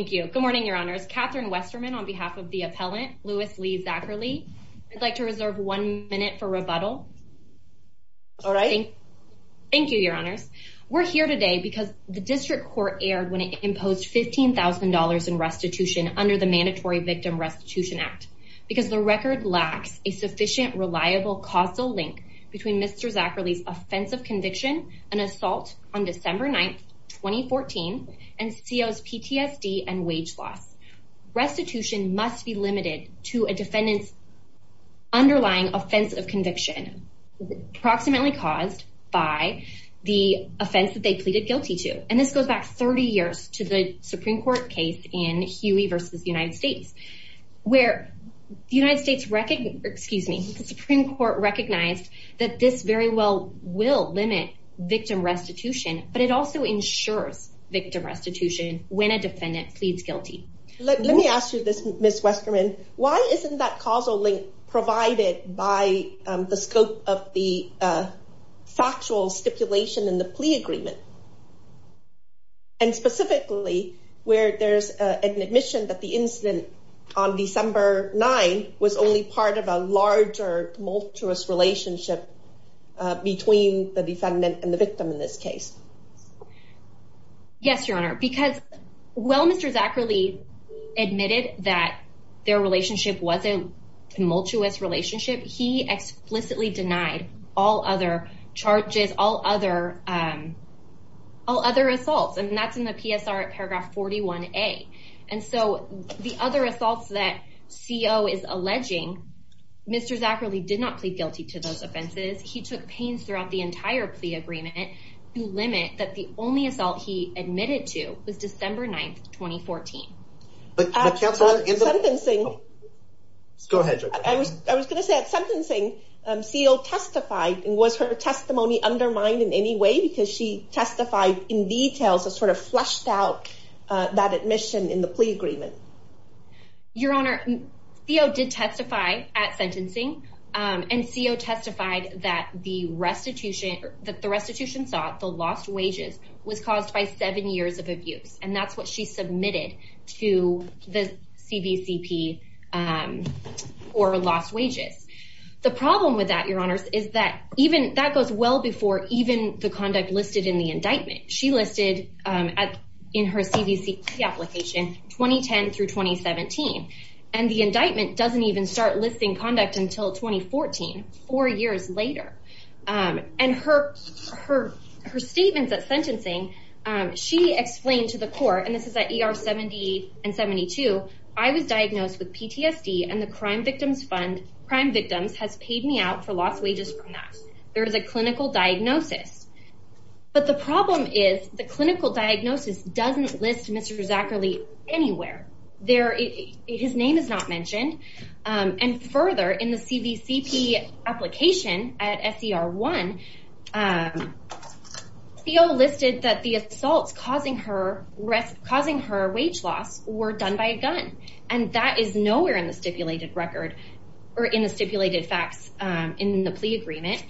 Thank you. Good morning, Your Honors. Catherine Westerman on behalf of the appellant, Louis Lee Zacherle. I'd like to reserve one minute for rebuttal. All right. Thank you, Your Honors. We're here today because the district court aired when it imposed $15,000 in restitution under the Mandatory Victim Restitution Act, because the record lacks a sufficient, reliable causal link between Mr. Zacherle's offensive conviction and assault on December 9th, 2014, and CO's PTSD and wage loss. Restitution must be limited to a defendant's underlying offense of conviction approximately caused by the offense that they pleaded guilty to. And this goes back 30 years to the Supreme Court case in Huey v. United States, where the United States, excuse me, the Supreme Court recognized that this very well will limit victim restitution, but it also ensures victim restitution when a defendant pleads guilty. Let me ask you this, Ms. Westerman, why isn't that causal link provided by the scope of the factual stipulation in the plea agreement? And specifically, where there's an admission that the incident on December 9 was only part of a larger tumultuous relationship between the defendant and the victim in this case? Yes, Your Honor, because while Mr. Zacherle admitted that their relationship was a tumultuous relationship, he explicitly denied all other charges, all other assaults, and that's in the PSR at paragraph 41A. And so the other assaults that CO is alleging, Mr. Zacherle did not plead guilty to those offenses. He took pains throughout the entire plea agreement to limit that the only assault he admitted to was December 9th, 2014. But, Counselor, in the sentencing, I was going to say, at sentencing, CO testified, and was her testimony undermined in any way because she testified in detail, so sort of fleshed out that admission in the plea agreement? Your Honor, CO did testify at sentencing, and CO testified that the restitution sought, the lost wages, was caused by seven years of abuse, and that's what she submitted to the CVCP for lost wages. The problem with that, Your Honors, is that even, that goes well before even the conduct listed in the indictment. She listed in her CVCP application 2010 through 2017, and the indictment doesn't even start listing conduct until 2014, four years later. And her statements at sentencing, she explained to the court, and this is at ER 70 and 72, I was diagnosed with PTSD, and the Crime Victims Fund, Crime Victims, has paid me out for lost wages from that. There is a clinical diagnosis. But the problem is, the clinical diagnosis doesn't list Mr. Zacherle anywhere. His name is not mentioned. And further, in the CVCP application at SER 1, CO listed that the assaults causing her wage loss were done by a gun, and that is nowhere in the stipulated record, or in the stipulated facts in the plea agreement.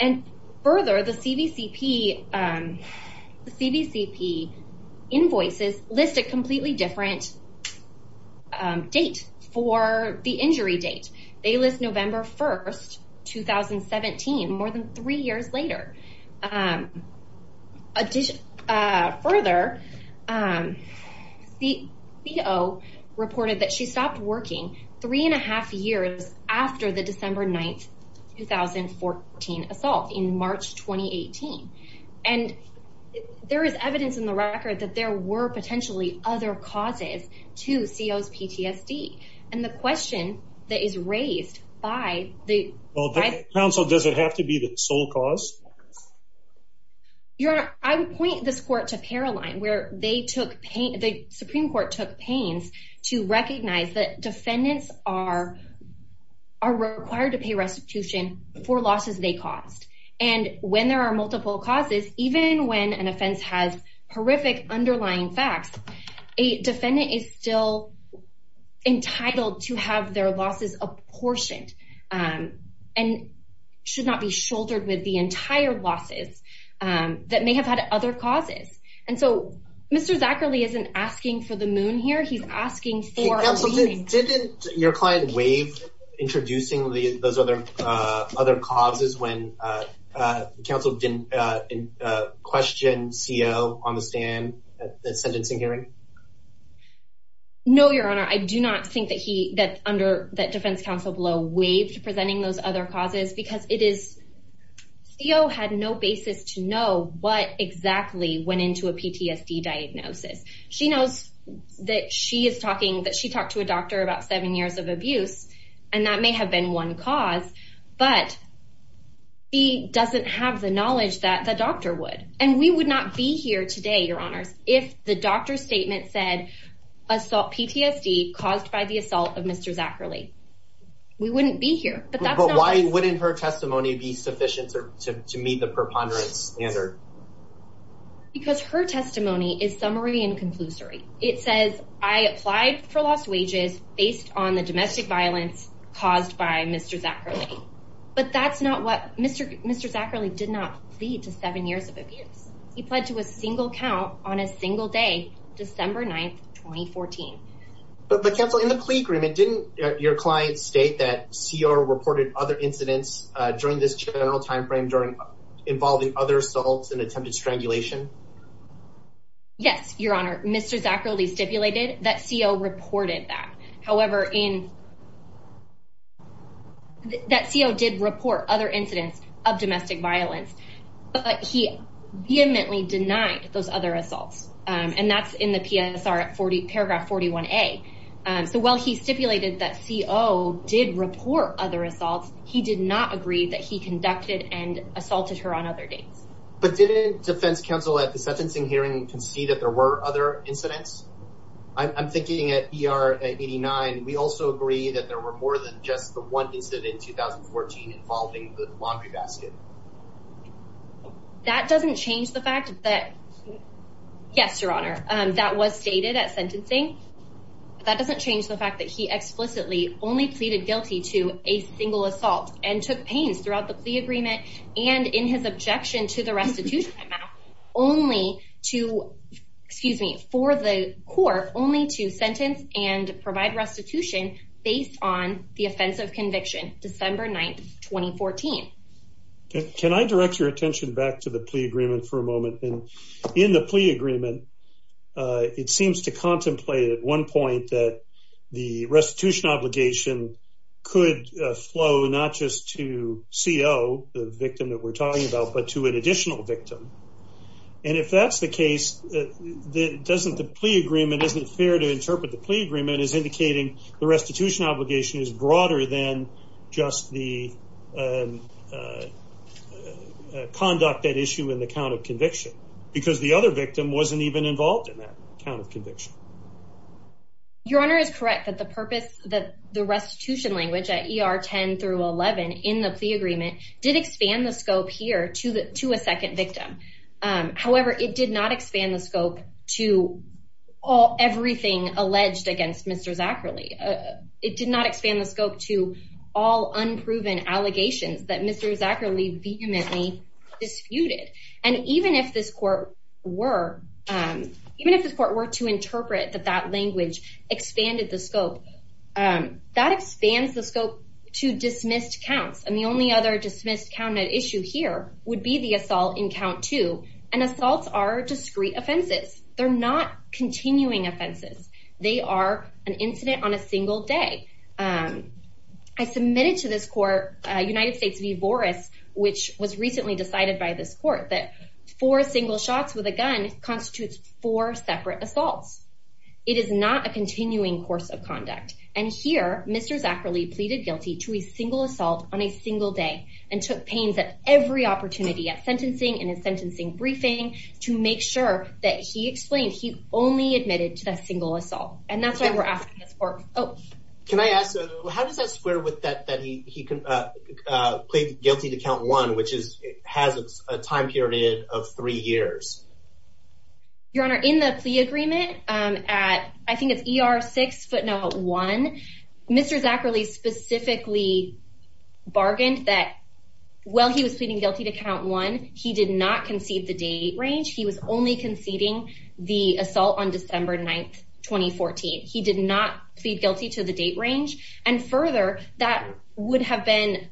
And further, the CVCP invoices list a completely different date for the injury date. They list November 1, 2017, more than three years later. Further, CO reported that she stopped working three and a half years after the December 9, 2014 assault in March 2018. And there is evidence in the record that there were potentially other causes to CO's PTSD. And the question that is raised by the- Well, counsel, does it have to be the sole cause? Your Honor, I would point this court to Paroline, where they took pain- the Supreme Court took pains to recognize that defendants are required to pay restitution for losses they caused. And when there are multiple causes, even when an offense has horrific underlying facts, a defendant is still entitled to have their losses apportioned, and should not be shouldered with the entire losses that may have had other causes. And so, Mr. Zacherle isn't asking for the moon here, he's asking for- Counsel, didn't your client waive introducing those other causes when counsel didn't question CO on the stand at the sentencing hearing? No, Your Honor, I do not think that he- that under- that defense counsel below waived presenting those other causes because it is- CO had no basis to know what exactly went into a PTSD diagnosis. She knows that she is talking- that she talked to a doctor about seven years of abuse, and that may have been one cause, but she doesn't have the knowledge that the doctor would. And we would not be here today, Your Honors, if the doctor's statement said assault- PTSD caused by the assault of Mr. Zacherle. We wouldn't be here, but that's not- But why wouldn't her testimony be sufficient to meet the preponderance standard? Because her testimony is summary and conclusory. It says, I applied for lost wages based on the domestic violence caused by Mr. Zacherle. But that's not what- Mr. Zacherle did not plead to seven years of abuse. He pled to a single count on a 14. But counsel, in the plea agreement, didn't your client state that CO reported other incidents during this general timeframe during- involving other assaults and attempted strangulation? Yes, Your Honor, Mr. Zacherle stipulated that CO reported that. However, in- that CO did report other incidents of domestic violence, but he vehemently denied those other assaults. And that's in the PSR 40- paragraph 41A. So while he stipulated that CO did report other assaults, he did not agree that he conducted and assaulted her on other dates. But didn't defense counsel at the sentencing hearing concede that there were other incidents? I'm thinking at ER 89, we also agree that there were more than just the one incident in 2014 involving the laundry basket. That doesn't change the fact that- yes, Your Honor, that was stated at sentencing. That doesn't change the fact that he explicitly only pleaded guilty to a single assault and took pains throughout the plea agreement and in his objection to the restitution only to- excuse me, for the court only to sentence and provide restitution based on the offense of conviction December 9th, 2014. Can I direct your attention back to the plea agreement for a moment? And in the plea agreement, it seems to contemplate at one point that the restitution obligation could flow not just to CO, the victim that we're talking about, but to an additional victim. And if that's the case, doesn't the plea agreement- isn't it fair to then just the conduct that issue in the count of conviction? Because the other victim wasn't even involved in that count of conviction. Your Honor is correct that the purpose that the restitution language at ER 10 through 11 in the plea agreement did expand the scope here to the- to a second victim. However, it did not expand the scope to all- everything alleged against Mr. Zacherle. It did not expand the scope to all unproven allegations that Mr. Zacherle vehemently disputed. And even if this court were- even if this court were to interpret that that language expanded the scope, that expands the scope to dismissed counts. And the only other dismissed count at issue here would be the assault in count two. And assaults are discrete offenses. They're not continuing offenses. They are an incident on a single day. I submitted to this court, United States v. Boris, which was recently decided by this court that four single shots with a gun constitutes four separate assaults. It is not a continuing course of conduct. And here, Mr. Zacherle pleaded guilty to a single assault on a single day and took pains at every opportunity at sentencing, in his sentencing briefing, to make sure that he explained he only admitted to that single assault. And that's why we're asking this court- oh. Can I ask- how does that square with that- that he- he can plead guilty to count one, which is- has a time period of three years? Your Honor, in the plea agreement at- I think it's ER 6 footnote one, Mr. Zacherle specifically bargained that while he was pleading guilty to count one, he did not concede the date range. He was only conceding the assault on December 9th, 2014. He did not plead guilty to the date range. And further, that would have been-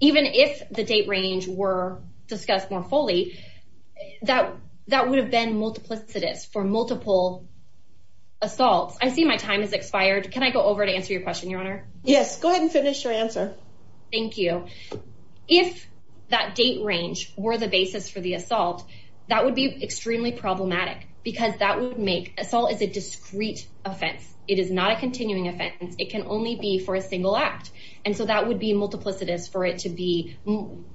even if the date range were discussed more fully, that- that would have been multiplicitous for multiple assaults. I see my time has expired. Can I go over to answer your question, Your Honor? Yes, go ahead and finish your answer. Thank you. If that date range were the basis for the assault, that would be extremely problematic because that would make- assault is a discrete offense. It is not a continuing offense. It can only be for a single act. And so that would be multiplicitous for it to be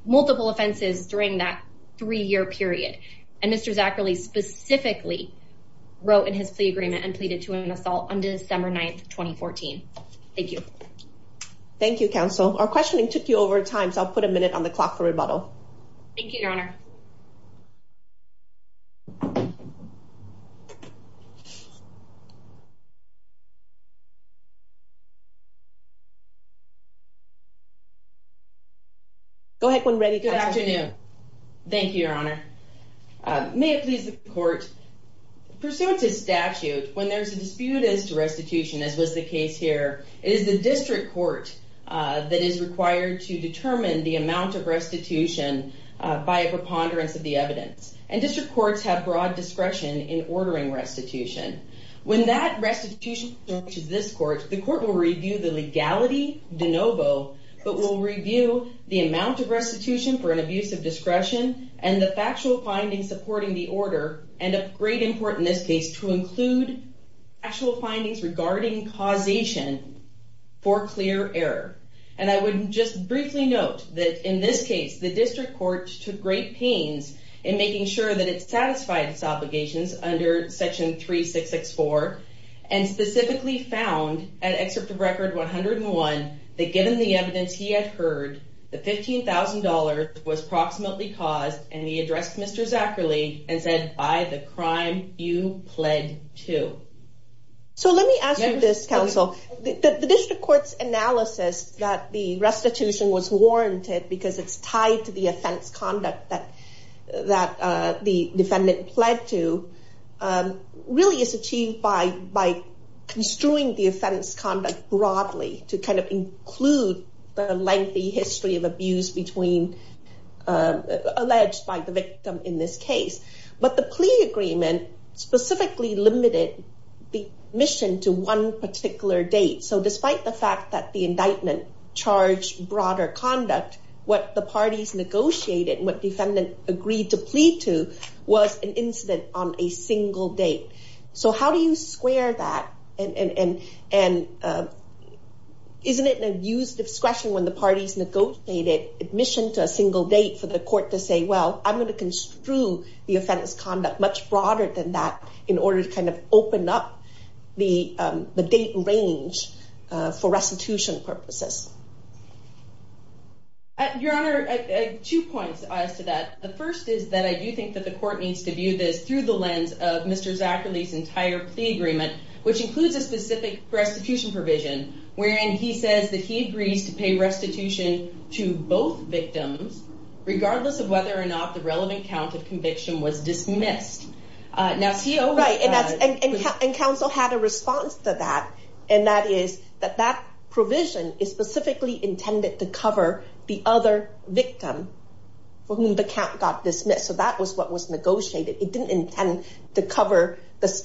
multiple offenses during that three-year period. And Mr. Zacherle specifically wrote in his plea agreement and thank you. Thank you, counsel. Our questioning took you over time, so I'll put a minute on the clock for rebuttal. Thank you, Your Honor. Go ahead when ready. Good afternoon. Thank you, Your Honor. May it please the court, pursuant to statute, when there's a dispute as to restitution, as was the case here, it is the district court that is required to determine the amount of restitution by a preponderance of the evidence. And district courts have broad discretion in ordering restitution. When that restitution approaches this court, the court will review the legality de novo, but will review the amount of restitution for an abuse of discretion and the factual findings supporting the order, and a great import in this case to include actual findings regarding causation for clear error. And I would just briefly note that in this case, the district court took great pains in making sure that it satisfied its obligations under section 3664, and specifically found at excerpt of record 101, that given the evidence he had heard, the $15,000 was proximately caused, and he addressed Mr. Zacherly and said, by the crime you pled to. So let me ask you this, counsel, the district court's analysis that the restitution was warranted because it's tied to the offense conduct that the defendant pled to, really is achieved by construing the offense conduct broadly to kind of include the lengthy history of abuse between, alleged by the victim in this case. But the plea agreement specifically limited the mission to one particular date. So despite the fact that the indictment charged broader conduct, what the parties negotiated, what defendant agreed to plead to, was an incident on a single date. So how do you square that? And isn't it an abuse discretion when the parties negotiated admission to a single date for the court to say, well, I'm going to construe the offense conduct much broader than that in order to kind of open up the date range for restitution purposes? Your Honor, I have two points as to that. The first is that I do think that the court needs to view this through the lens of Mr. Zacherly's entire plea agreement, which includes a specific restitution provision, wherein he says that he agrees to pay restitution to both victims, regardless of whether or not the relevant count of conviction was dismissed. And counsel had a response to that, and that is that that provision is specifically intended to cover the other victim for whom the count got dismissed. So that was what was negotiated. It was a restitution provision, and that is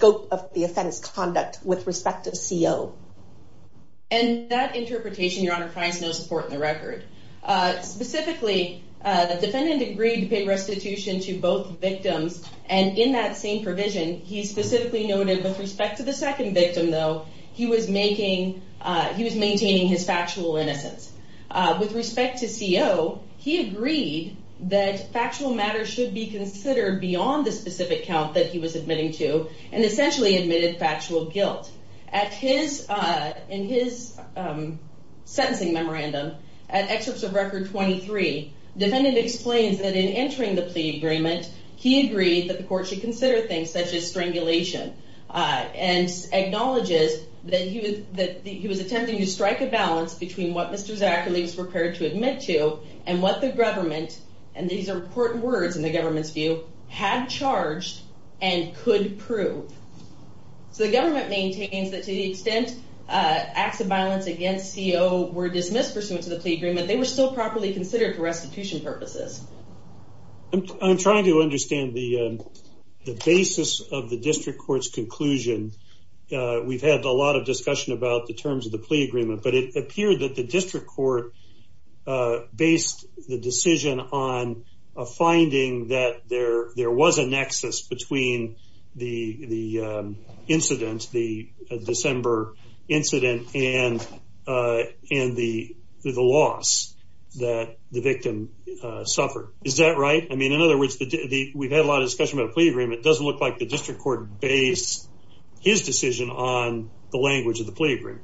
what the defendant agreed to pay restitution to both victims. And in that same provision, he specifically noted with respect to the second victim, though, he was maintaining his factual innocence. With respect to CO, he agreed that factual matters should be considered beyond the specific count that he was admitting to, and essentially admitted factual guilt. In his sentencing memorandum, at excerpts of Record 23, defendant explains that in entering the plea agreement, he agreed that the court should consider things such as strangulation, and acknowledges that he was attempting to strike a balance between what Mr. Zacherly was prepared to admit to and what the government, and these So the government maintains that to the extent acts of violence against CO were dismissed pursuant to the plea agreement, they were still properly considered for restitution purposes. I'm trying to understand the basis of the district court's conclusion. We've had a lot of discussion about the terms of the plea agreement, but it appeared that the district court based the decision on a finding that there was a nexus between the incident, the December incident, and the loss that the victim suffered. Is that right? I mean, in other words, we've had a lot of discussion about the plea agreement. It doesn't look like the district court based his decision on the language of the plea agreement.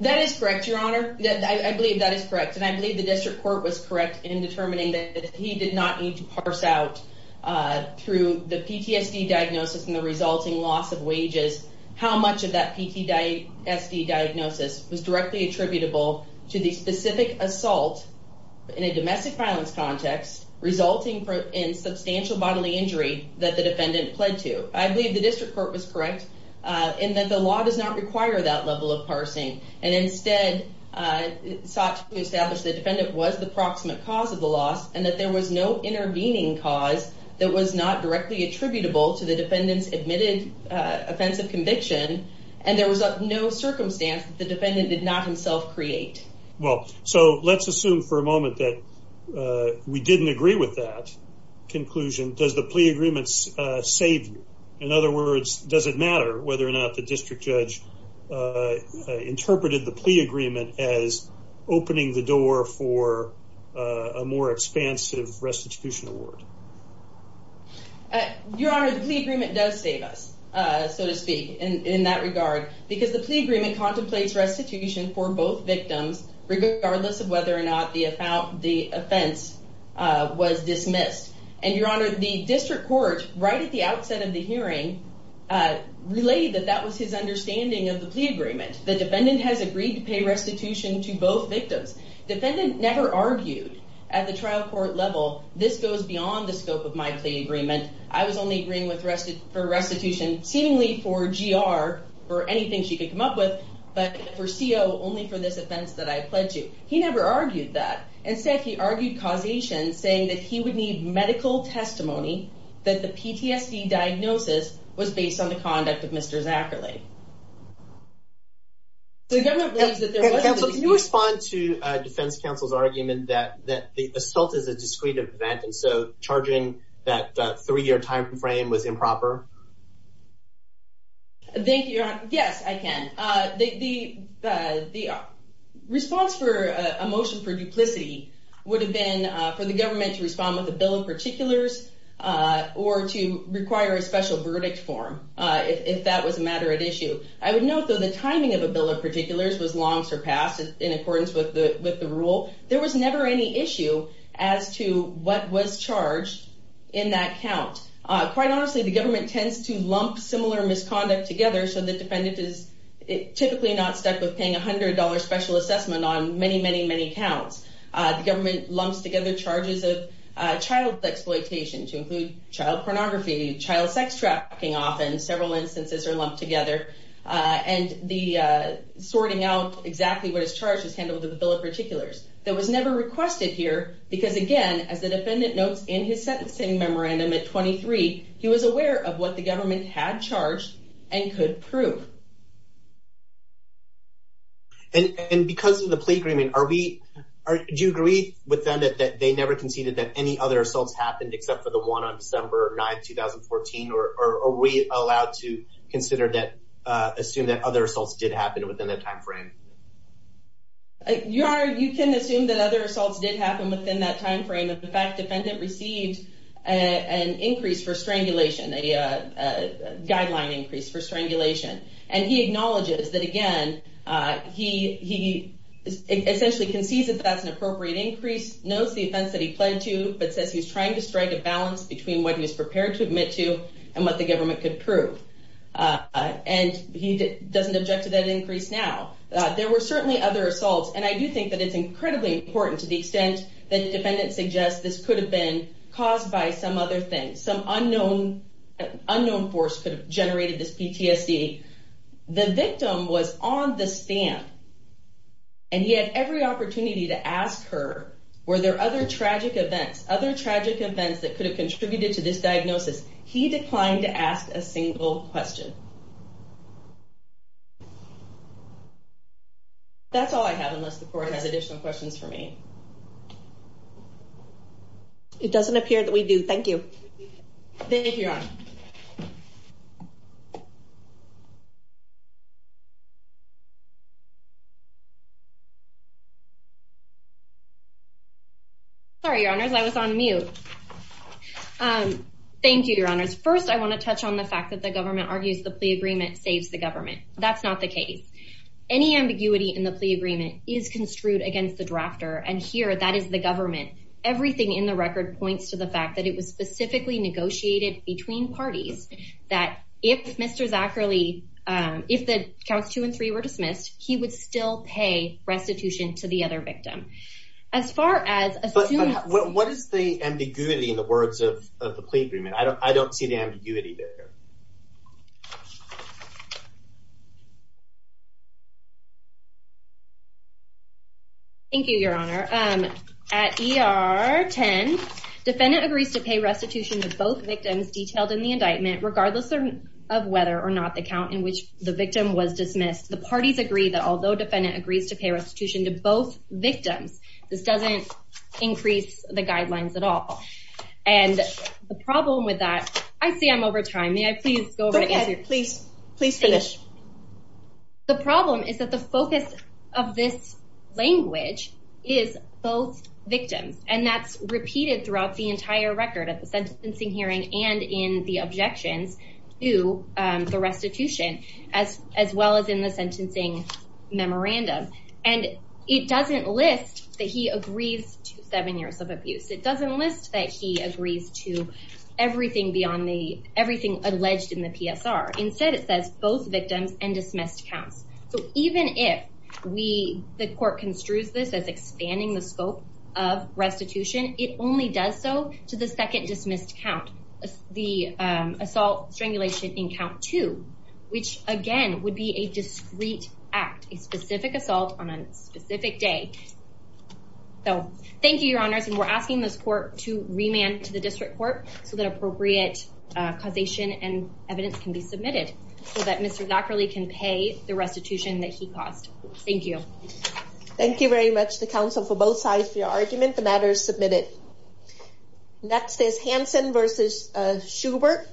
That is correct, Your Honor. I believe that is correct. And I believe the district court was correct in determining that he did not need to parse out through the PTSD diagnosis and the resulting loss of wages, how much of that PTSD diagnosis was directly attributable to the specific assault in a domestic violence context, resulting in substantial bodily injury that the defendant pled to. I believe the district court was correct in that the law does not require that level of parsing, and instead sought to establish the defendant was the proximate cause of the loss and that there was no intervening cause that was not directly attributable to the defendant's admitted offensive conviction, and there was no circumstance that the defendant did not himself create. Well, so let's assume for a moment that we didn't agree with that conclusion. Does the plea agreement save you? In other words, does it matter whether or not the district judge interpreted the plea agreement as opening the door for a more expansive restitution award? Your Honor, the plea agreement does save us, so to speak, in that regard, because the plea agreement contemplates restitution for both victims, regardless of whether or not the offense was dismissed. And Your Honor, the district court, right at the outset of the hearing, relayed that that was his understanding of the plea agreement. The defendant has agreed to pay restitution to both victims. Defendant never argued at the trial court level, this goes beyond the scope of my plea agreement. I was only agreeing for restitution, seemingly for GR, for anything she could come up with, but for CO, only for this offense that I pled to. He never argued that. Instead, he argued causation, saying that he would need medical testimony, that the PTSD diagnosis was based on the conduct of Mr. Zacherle. Can you respond to Defense Counsel's argument that the assault is a discreet event, and so charging that three-year time frame was improper? Thank you, Your Honor. Yes, I can. The response for a motion for duplicity would have been for the government to respond with a bill of particulars, or to require a special verdict form, if that was a matter at issue. I would note, though, the timing of a bill of particulars was long surpassed in accordance with the rule. There was never any issue as to what was charged in that count. Quite honestly, the government tends to lump similar misconduct together, so the defendant is typically not stuck with paying $100 special assessment on many, many, many counts. The government lumps together charges of child exploitation, to include child pornography, child sex trafficking often, several instances are lumped together, and sorting out exactly what is charged is handled with a bill of particulars. That was never requested here, because again, as the defendant notes in his sentencing memorandum at 23, he was aware of what the government had charged and could prove. And because of the plea agreement, do you agree with them that they never conceded that any other assaults happened except for the one on December 9, 2014, or are we allowed to consider that, assume that other assaults did happen within that time frame? You are, you can assume that other assaults did happen within that time frame. In fact, defendant received an increase for strangulation, a guideline increase for strangulation, and he acknowledges that again, he essentially concedes that that's an appropriate increase, knows the offense that he pled to, but says he's trying to strike a balance between what he's prepared to admit to and what the government could prove. And he doesn't object to that increase now. There were certainly other assaults, and I do think that it's incredibly important to the extent that the defendant suggests this could have been caused by some other thing, some unknown force could have generated this PTSD. The victim was on the stand, and he had every opportunity to ask her, were there other tragic events, other tragic events that could have contributed to this diagnosis? He declined to ask a single question. That's all I have, unless the court has additional questions for me. It doesn't appear that we do. Thank you. Thank you, Your Honor. Sorry, Your Honors, I was on mute. Thank you, Your Honors. First, I want to touch on the fact that the government argues the plea agreement saves the government. That's not the case. Any ambiguity in the plea agreement is construed against the drafter, and here, that is the negotiated between parties that if Mr. Zacherly, if the counts two and three were dismissed, he would still pay restitution to the other victim. As far as... What is the ambiguity in the words of the plea agreement? I don't see the ambiguity there. Thank you, Your Honor. At ER 10, defendant agrees to pay restitution to both victims detailed in the indictment, regardless of whether or not the count in which the victim was dismissed. The parties agree that although defendant agrees to pay restitution to both victims, this doesn't increase the guidelines at all. The problem with that... I see I'm over time. Please go ahead. Please finish. The problem is that the focus of this language is both victims, and that's repeated throughout the entire record of the sentencing hearing and in the objections to the restitution, as well as in the sentencing memorandum. And it doesn't list that he agrees to seven years of abuse. It doesn't list that he agrees to everything alleged in the PSR. Instead, it says both victims and dismissed counts. So even if the court construes this as expanding the scope of restitution, it only does so to the second dismissed count, the assault strangulation in count two, which again would be a discreet act, a specific assault on a specific day. So thank you, Your Honors. And we're asking this court to remand to the district court so that appropriate causation and evidence can be submitted so that Mr. Zacherle can pay the restitution that he caused. Thank you. Thank you very much to counsel for both sides for your argument. The matter is submitted. Next is Hanson versus Schubert.